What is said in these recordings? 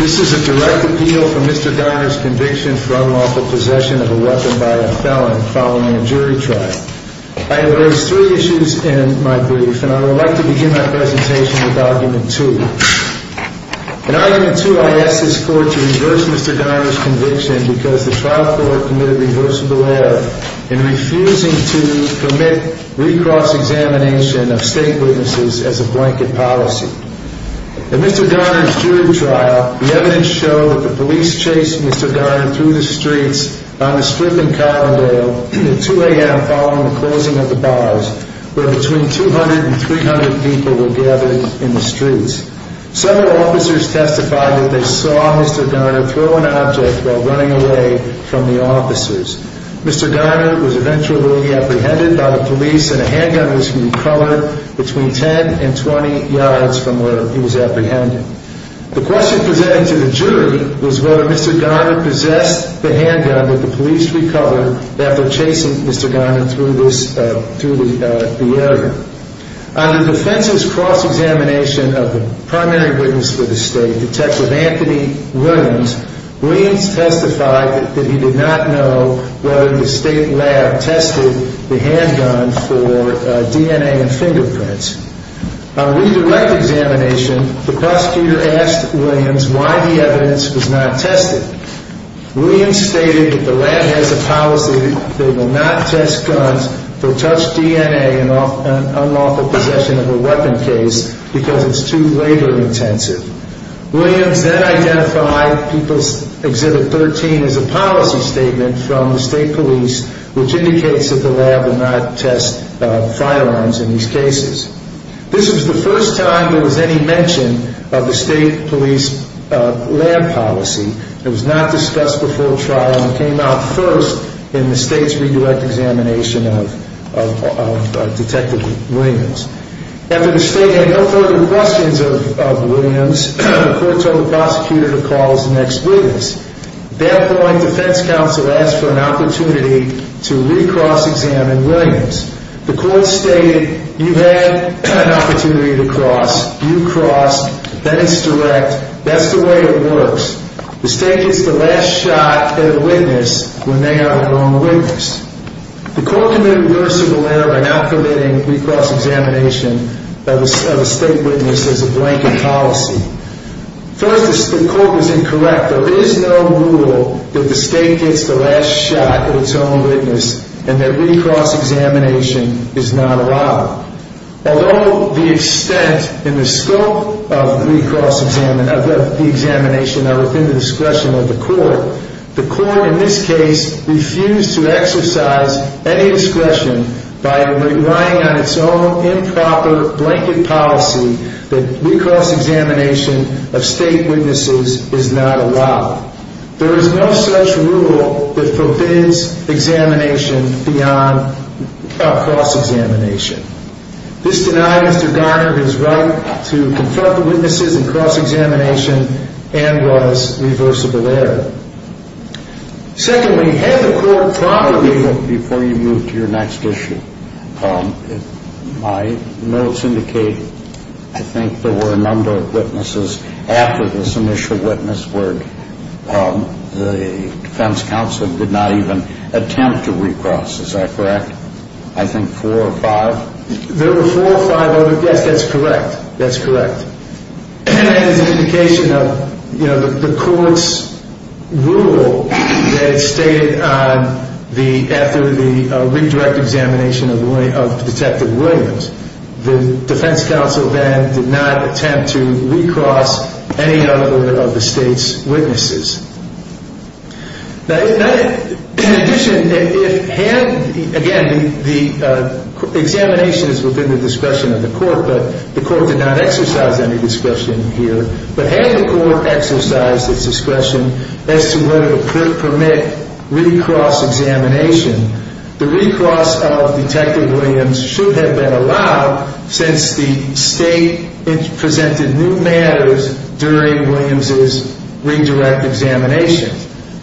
This is a direct appeal for Mr. Garner's conviction for unlawful possession of a weapon by a felon following a jury trial. I have raised three issues in my brief, and I would like to begin my presentation with Argument 2. In Argument 2, I ask this Court to reverse Mr. Garner's conviction because the trial court committed reversible error in refusing to permit recross-examination of state witnesses as a blanket policy. In Mr. Garner's jury trial, the evidence showed that the police chased Mr. Garner through the streets on a strip in Collingdale at 2 a.m. following the closing of the bars, where between 200 and 300 people were gathered in the streets. Several officers testified that they saw Mr. Garner throw an object while running away from the officers. Mr. Garner was eventually apprehended by the police, and a handgun was recovered between 10 and 20 yards from where he was apprehended. The question presented to the jury was whether Mr. Garner possessed the handgun that the police recovered after chasing Mr. Garner through the area. On the defense's cross-examination of the primary witness for the state, Detective Anthony Williams, Williams testified that he did not know whether the state lab tested the handgun for DNA and fingerprints. On a redirect examination, the prosecutor asked Williams why the evidence was not tested. Williams stated that the lab has a policy that they will not test guns for touched DNA and unlawful possession of a weapon case because it's too labor-intensive. Williams then identified People's Exhibit 13 as a policy statement from the state police, which indicates that the lab will not test firearms in these cases. This was the first time there was any mention of the state police lab policy. It was not discussed before trial and came out first in the state's redirect examination of Detective Williams. After the state had no further questions of Williams, the court told the prosecutor to call his next witness. At that point, defense counsel asked for an opportunity to re-cross-examine Williams. The court stated, you had an opportunity to cross. You crossed. That is direct. That's the way it works. The state gets the last shot at a witness when they have a wrong witness. The court committed reversible error by now permitting re-cross-examination of a state witness as a blanket policy. First, the court was incorrect. There is no rule that the state gets the last shot at its own witness and that re-cross-examination is not allowed. Although the extent and the scope of the examination are within the discretion of the court, the court in this case refused to exercise any discretion by relying on its own improper blanket policy that re-cross-examination of state witnesses is not allowed. There is no such rule that forbids examination beyond cross-examination. This denied Mr. Garner his right to confront the witnesses in cross-examination and was reversible error. Secondly, had the court properly... Before you move to your next issue, my notes indicate I think there were a number of witnesses after this initial witness where the defense counsel did not even attempt to re-cross. Is that correct? I think four or five? There were four or five other? Yes, that's correct. That's correct. And as an indication of the court's rule that it stated after the redirect examination of Detective Williams, the defense counsel then did not attempt to re-cross any other of the state's witnesses. In addition, again, the examination is within the discretion of the court, but the court did not exercise any discretion here, but had the court exercised its discretion as to whether to permit re-cross-examination, the re-cross of Detective Williams should have been allowed since the state presented new matters during Williams' redirect examination.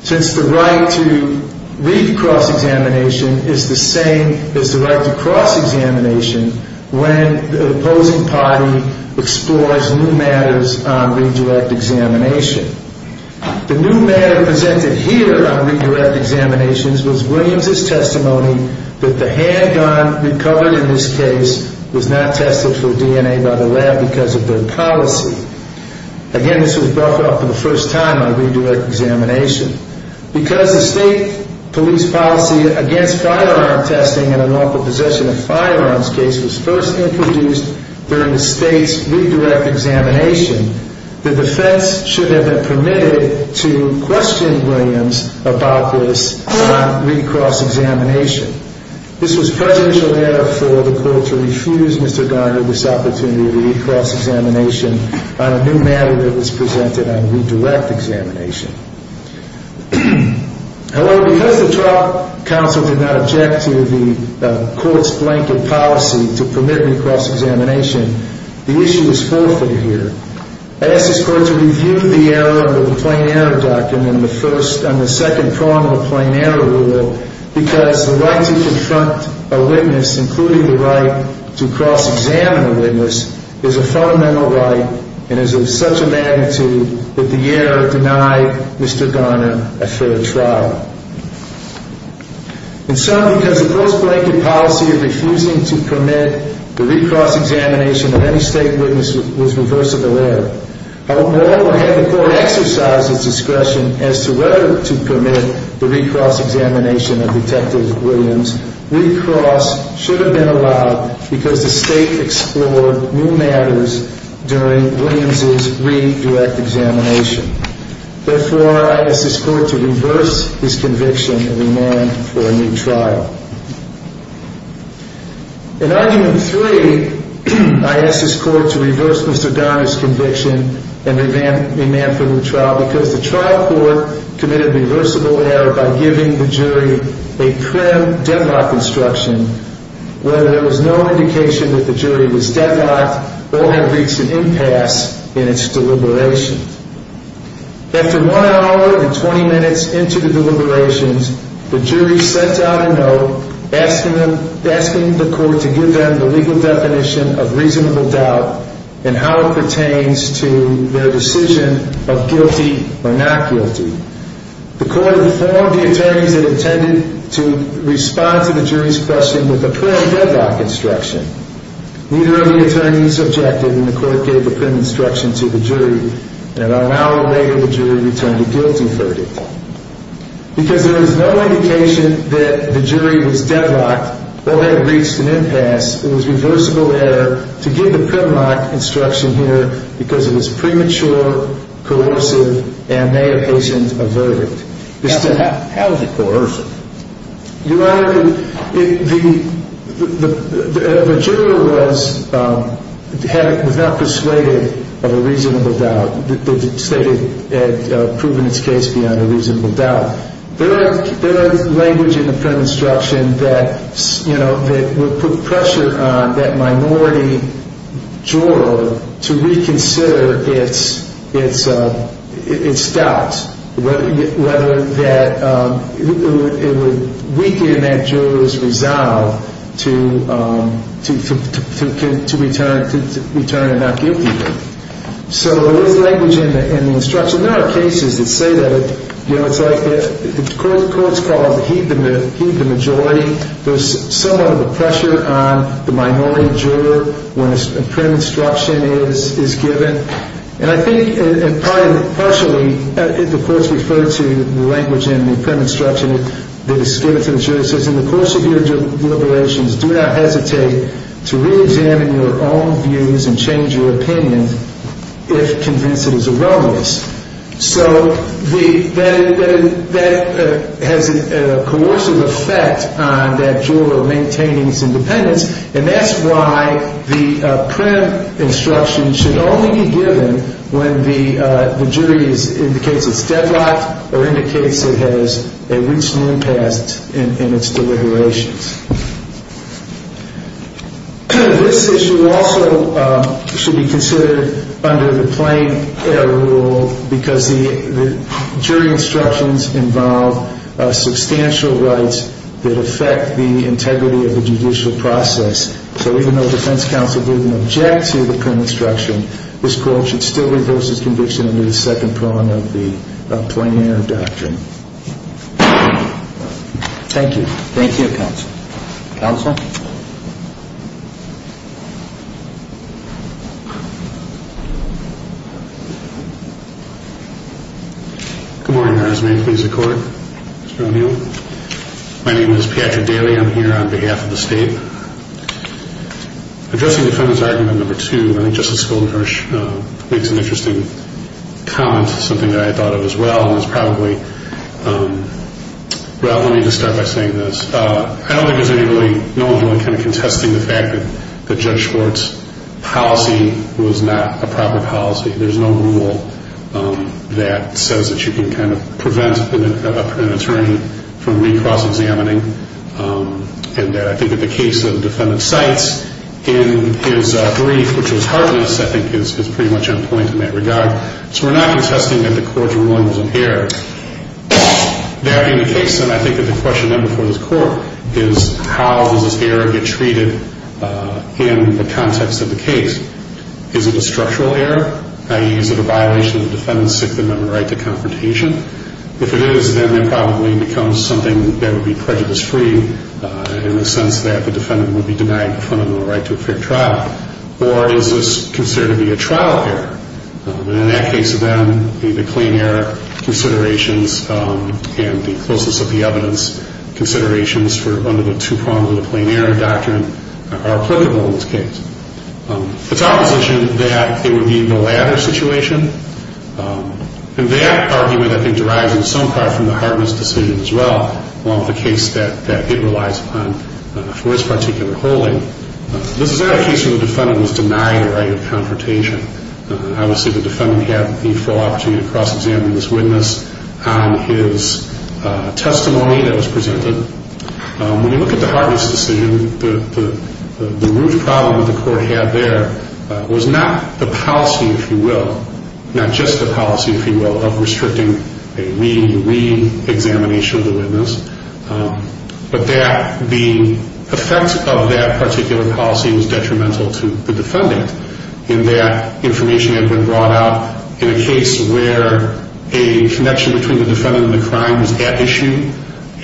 Since the right to re-cross-examination is the same as the right to cross-examination when the opposing party explores new matters on redirect examination. The new matter presented here on redirect examinations was Williams' testimony that the handgun recovered in this case was not tested for DNA by the lab because of their policy. Again, this was brought up for the first time on redirect examination. Because the state police policy against firearm testing and unlawful possession of firearms case was first introduced during the state's redirect examination, the defense should have been permitted to question Williams about this on re-cross-examination. This was presidential error for the court to refuse Mr. Garner this opportunity to re-cross-examination on a new matter that was presented on redirect examination. However, because the trial counsel did not object to the court's blanket policy to permit re-cross-examination, the issue is fulfilled here. I ask this court to review the error of the plain error document on the second prong of the plain error rule because the right to confront a witness, including the right to cross-examine a witness, is a fundamental right and is of such a magnitude that the error denied Mr. Garner a fair trial. In sum, because the post-blanket policy of refusing to permit the re-cross-examination of any state witness was reversible error, however, had the court exercised its discretion as to whether to permit the re-cross-examination of Detective Williams, re-cross should have been allowed because the state explored new matters during Williams' redirect examination. Therefore, I ask this court to reverse this conviction and remand for a new trial. In argument three, I ask this court to reverse Mr. Garner's conviction and remand for a new trial because the trial court committed reversible error by giving the jury a crim deadlock instruction, whether there was no indication that the jury was deadlocked or had reached an impasse in its deliberations. After one hour and 20 minutes into the deliberations, the jury sent out a note asking the court to give them the legal definition of reasonable doubt and how it pertains to their decision of guilty or not guilty. The court informed the attorneys it intended to respond to the jury's question with a crim deadlock instruction. Neither of the attorneys objected, and the court gave the crim instruction to the jury. About an hour later, the jury returned a guilty verdict. Because there was no indication that the jury was deadlocked or had reached an impasse, it was reversible error to give the crim lock instruction here because it was premature, coercive, and may have patient-averted. How is it coercive? Your Honor, the jury was not persuaded of a reasonable doubt. They stated it had proven its case beyond a reasonable doubt. There are language in the crim instruction that would put pressure on that minority juror to reconsider its doubts, whether it would weaken that juror's resolve to return a not guilty verdict. So there is language in the instruction. There are cases that say that, you know, it's like, the court's called the heathen majority. There's somewhat of a pressure on the minority juror when a crim instruction is given. And I think, and partially, the court's referred to the language in the crim instruction that is given to the jury. It says, in the course of your deliberations, do not hesitate to reexamine your own views and change your opinion if convinced it is irrelevant. So that has a coercive effect on that juror maintaining its independence. And that's why the crim instruction should only be given when the jury indicates it's deadlocked or indicates it has a recent impasse in its deliberations. This issue also should be considered under the plain error rule because the jury instructions involve substantial rights that affect the integrity of the judicial process. So even though defense counsel didn't object to the crim instruction, this court should still reverse its conviction under the second prong of the plain error doctrine. Thank you. Thank you, counsel. Counsel? Good morning, Your Honor. May I please accord, Mr. O'Neill? My name is Patrick Daly. I'm here on behalf of the state. Addressing defendant's argument number two, I think Justice Goldenhorst makes an interesting comment, something that I thought of as well. Well, let me just start by saying this. I don't think there's anyone really kind of contesting the fact that Judge Schwartz's policy was not a proper policy. There's no rule that says that you can kind of prevent an attorney from recross-examining. And I think that the case that the defendant cites in his brief, which was heartless, I think is pretty much on point in that regard. So we're not contesting that the court's ruling was an error. That being the case, then I think that the question then before this court is how does this error get treated in the context of the case? Is it a structural error? I.e., is it a violation of the defendant's Sixth Amendment right to confrontation? If it is, then it probably becomes something that would be prejudice-free in the sense that the defendant would be denied the fundamental right to a fair trial. Or is this considered to be a trial error? And in that case, then, the plain error considerations and the closeness of the evidence considerations for one of the two prongs of the plain error doctrine are applicable in this case. It's opposition that it would be the latter situation. And that argument, I think, derives in some part from the heartless decision as well, along with the case that it relies upon for this particular holding. This is not a case where the defendant was denied the right of confrontation. Obviously, the defendant had the full opportunity to cross-examine this witness on his testimony that was presented. When you look at the heartless decision, the root problem that the court had there was not the policy, if you will, not just the policy, if you will, of restricting a re-re-examination of the witness. But the effect of that particular policy was detrimental to the defendant in that information had been brought out in a case where a connection between the defendant and the crime was at issue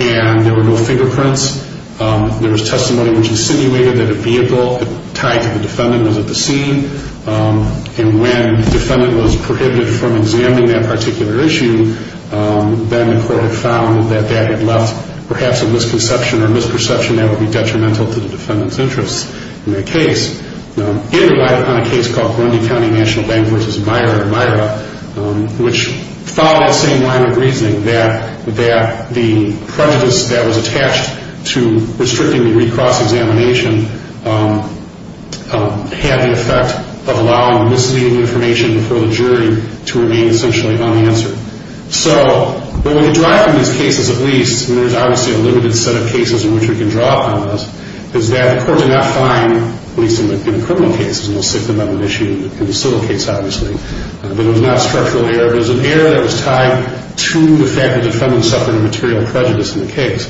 and there were no fingerprints. There was testimony which insinuated that a vehicle tied to the defendant was at the scene. And when the defendant was prohibited from examining that particular issue, then the court had found that that had left perhaps a misconception or misperception that would be detrimental to the defendant's interests in that case. It relied upon a case called Burundi County National Bank v. Myra, which followed the same line of reasoning that the prejudice that was attached to restricting the re-cross-examination had the effect of allowing the misleading information before the jury to remain essentially unanswered. So what we derive from these cases, at least, and there's obviously a limited set of cases in which we can draw upon this, is that the court did not find, at least in the criminal cases, and we'll stick them on an issue in the civil case, obviously, that it was not a structural error. It was an error that was tied to the fact that the defendant suffered a material prejudice in the case.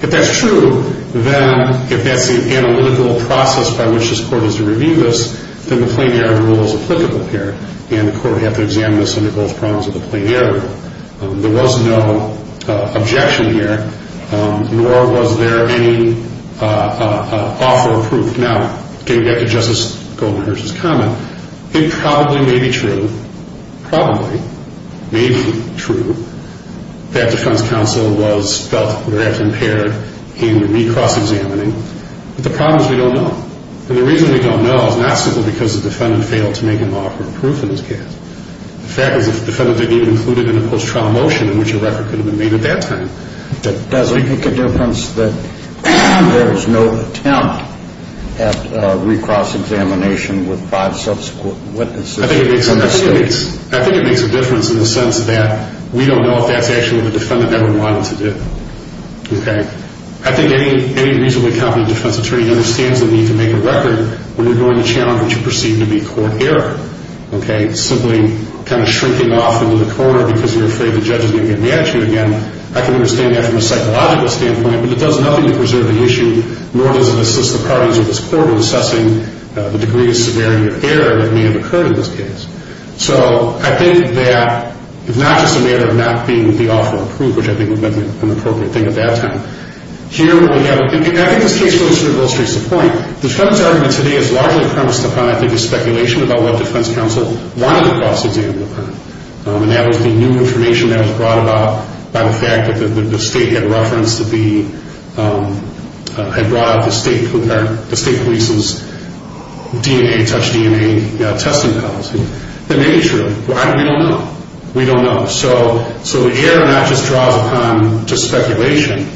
If that's true, then if that's the analytical process by which this court is to review this, then the plain error rule is applicable here. And the court would have to examine this under both prongs of the plain error rule. There was no objection here, nor was there any offer of proof. Now, getting back to Justice Goldenhurst's comment, it probably may be true, probably may be true, that defense counsel was felt perhaps impaired in the re-cross-examining, but the problem is we don't know. And the reason we don't know is not simply because the defendant failed to make an offer of proof in this case. The fact is the defendant didn't even include it in a post-trial motion in which a record could have been made at that time. Does it make a difference that there was no attempt at re-cross-examination with five subsequent witnesses? I think it makes a difference in the sense that we don't know if that's actually what the defendant ever wanted to do. I think any reasonably competent defense attorney understands the need to make a record when you're going to challenge what you perceive to be court error. Simply kind of shrinking off into the corner because you're afraid the judge is going to get mad at you again. I can understand that from a psychological standpoint, but it does nothing to preserve the issue, nor does it assist the parties of this court in assessing the degree of severity of error that may have occurred in this case. So I think that it's not just a matter of not being with the offer of proof, which I think would have been an appropriate thing at that time. I think this case really illustrates the point. The defense argument today is largely premised upon, I think, a speculation about what defense counsel wanted to cross-examine with her. And that was the new information that was brought about by the fact that the state had referenced the state police's DNA-touched DNA testing policy. That may be true. Why? We don't know. We don't know. So the error not just draws upon speculation,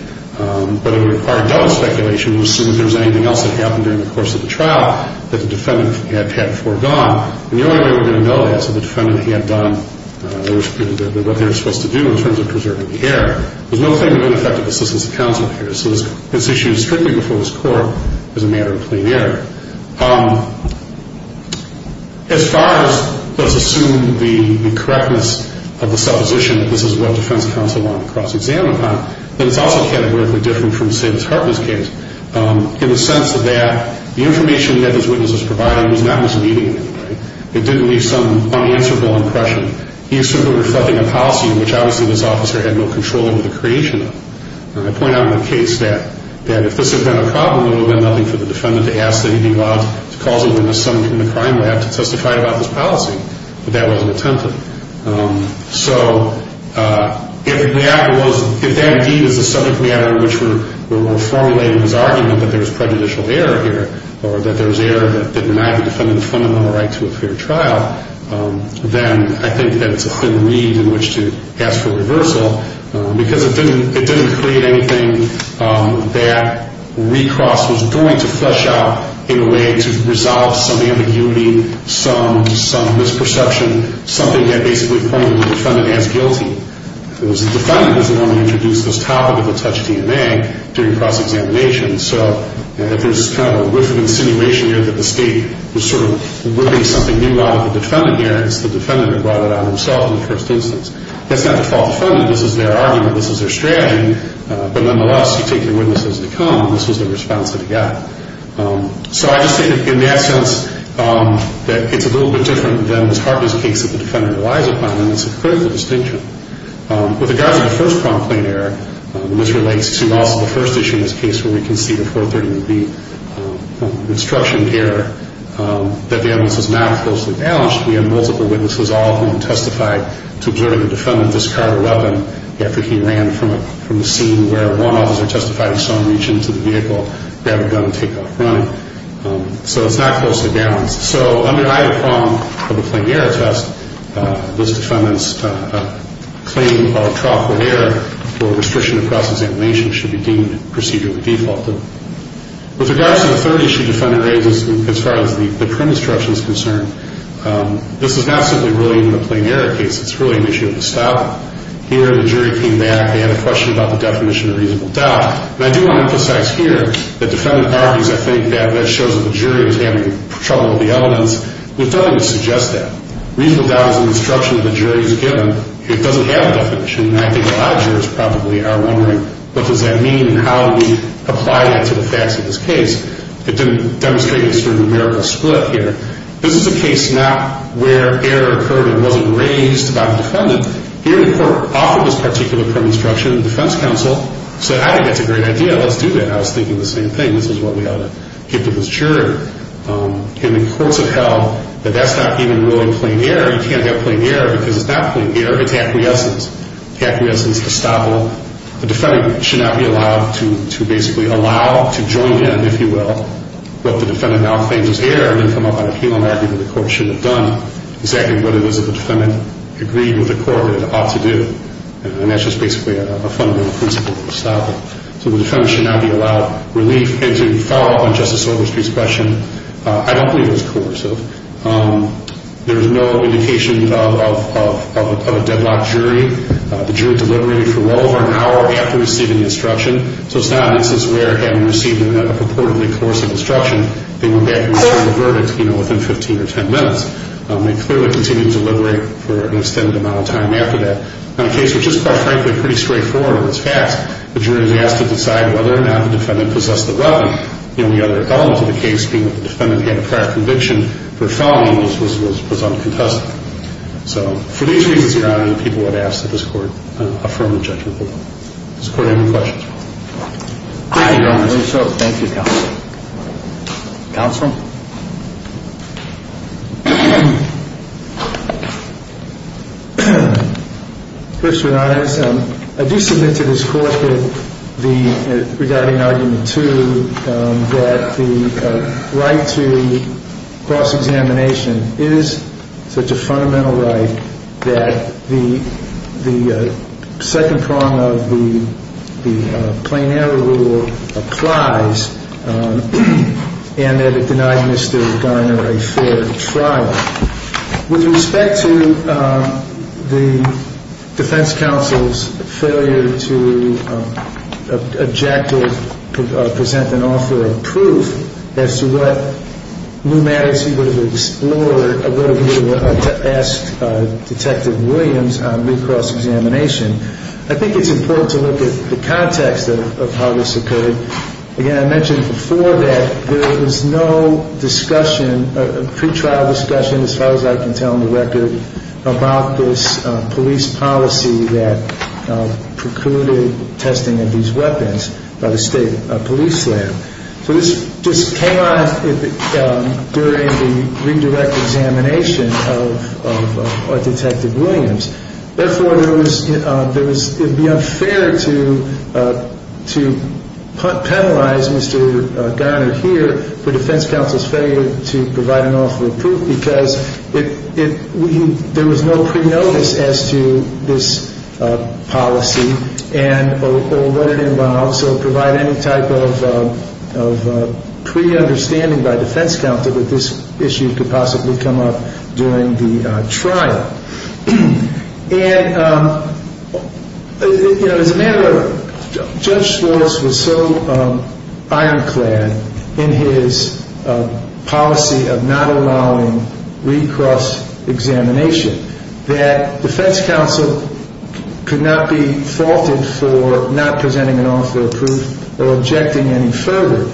but it would require double speculation to assume that there's anything else that happened during the course of the trial that the defendant had foregone. And the only way we're going to know that is if the defendant had done what they were supposed to do in terms of preserving the error. There's no claim of ineffective assistance of counsel here. So this issue is strictly before this court as a matter of plain error. As far as let's assume the correctness of the supposition that this is what defense counsel wanted to cross-examine upon, then it's also categorically different from, say, Ms. Harper's case in the sense that the information that this witness was providing was not misleading. It didn't leave some unanswerable impression. He assumed it was reflecting a policy in which obviously this officer had no control over the creation of. And I point out in the case that if this had been a problem, it would have been nothing for the defendant to ask that he be allowed to call the witness in the crime lab to testify about this policy. But that wasn't attempted. So if that indeed is the subject matter in which we're formulating this argument that there's prejudicial error here or that there's error that denied the defendant the fundamental right to a fair trial, then I think that it's a thin reed in which to ask for reversal because it didn't create anything that recross was going to flesh out in a way to resolve some ambiguity, some misperception, something that basically pointed the defendant as guilty. It was the defendant who was the one who introduced this topic of the touch DNA during cross-examination. So if there's kind of a whiff of insinuation here that the state was sort of ripping something new out of the defendant here, it's the defendant who brought it on himself in the first instance. That's not the fault of the defendant. This is their argument. This is their strategy. But nonetheless, you take your witnesses to come. This was the response that he got. So I just think in that sense that it's a little bit different than Ms. Harper's case that the defendant relies upon, and it's a critical distinction. With regards to the first prompt plain error, which relates to also the first issue in this case where we can see the 430B instruction error, that the evidence is not closely balanced. We have multiple witnesses, all of whom testified to observing the defendant discard a weapon after he ran from a scene where one officer testified he saw him reach into the vehicle, grab a gun, and take off running. So it's not closely balanced. So under either prompt or the plain error test, this defendant's claim of a trough with air for restriction of cross-examination should be deemed procedurally defaulted. With regards to the third issue, which the defendant raises as far as the print instruction is concerned, this is not simply really even a plain error case. It's really an issue of the style. Here the jury came back. They had a question about the definition of reasonable doubt. And I do want to emphasize here that the defendant argues, I think, that that shows that the jury is having trouble with the elements, which doesn't even suggest that. Reasonable doubt is an instruction that the jury is given. It doesn't have a definition. And I think a lot of jurors probably are wondering, what does that mean and how do we apply that to the facts of this case? It didn't demonstrate a sort of numerical split here. This is a case not where error occurred and wasn't raised by the defendant. Here the court, off of this particular print instruction, the defense counsel said, I think that's a great idea. Let's do that. And I was thinking the same thing. This is what we ought to give to this jury. And the courts have held that that's not even really a plain error. You can't have plain error because it's not plain error. It's acquiescence. Acquiescence, estoppel. The defendant should not be allowed to basically allow, to join in, if you will, what the defendant now claims is error and come up on appeal and argue that the court should have done exactly what it is that the defendant agreed with the court that it ought to do. And that's just basically a fundamental principle of estoppel. So the defendant should not be allowed relief. And to follow up on Justice Overstreet's question, I don't believe it was coercive. There is no indication of a deadlock jury. The jury deliberated for well over an hour. An hour after receiving the instruction. So it's not an instance where having received a purportedly coercive instruction, they went back and served the verdict, you know, within 15 or 10 minutes. They clearly continued to deliberate for an extended amount of time after that. In a case which is quite frankly pretty straightforward in its facts, the jury was asked to decide whether or not the defendant possessed the weapon. The only other element to the case being that the defendant had a prior conviction So for these reasons, Your Honor, we look forward to hearing other reactions from people in this case. And this the only time people have asked that this Court affirm the judgment for them. Does this Court have any questions? Mr. Roberts your Honor, Thank you Counsel. Counsel. Mr. Honors, I do submit to this Court regarding Argument 2 that the right to cross-examination is such a fundamental right that the second prong of the plain error rule applies and that it denied Mr. Garner a fair trial. With respect to the Defense Counsel's failure to objectively present an offer of proof as to what new matters he would have explored or what he would have asked Detective Williams on recross-examination, I think it's important to look at the context of how this occurred. Again, I mentioned before that there was no discussion, pre-trial discussion as far as I can tell in the record, about this police policy that precluded testing of these weapons by the State Police Lab. So this just came on during the redirect examination of Detective Williams. Therefore, it would be unfair to penalize Mr. Garner here for Defense Counsel's failure to provide an offer of proof because there was no pre-notice as to this policy or what it involved. So provide any type of pre-understanding by Defense Counsel that this issue could possibly come up during the trial. And as a matter of fact, Judge Schwartz was so ironclad in his policy of not allowing recross-examination that Defense Counsel could not be faulted for not presenting an offer of proof or objecting any further.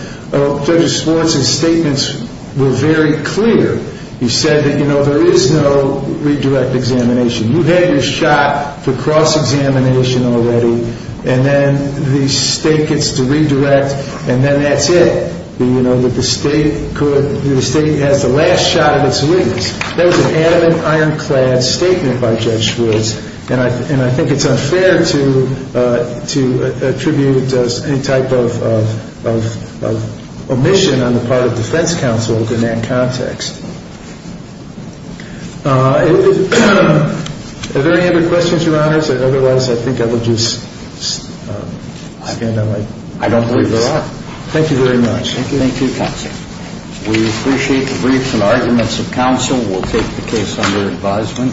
Judge Schwartz's statements were very clear. He said that, you know, there is no redirect examination. You had your shot for cross-examination already and then the State gets to redirect and then that's it. You know, that the State has the last shot at its release. That was an adamant, ironclad statement by Judge Schwartz and I think it's unfair to attribute any type of omission on the part of Defense Counsel in that context. Are there any other questions, Your Honors? Otherwise, I think I will just end on my briefs. I don't believe there are. Thank you very much. Thank you, Counsel. We appreciate the briefs and arguments of counsel. We'll take the case under advisement.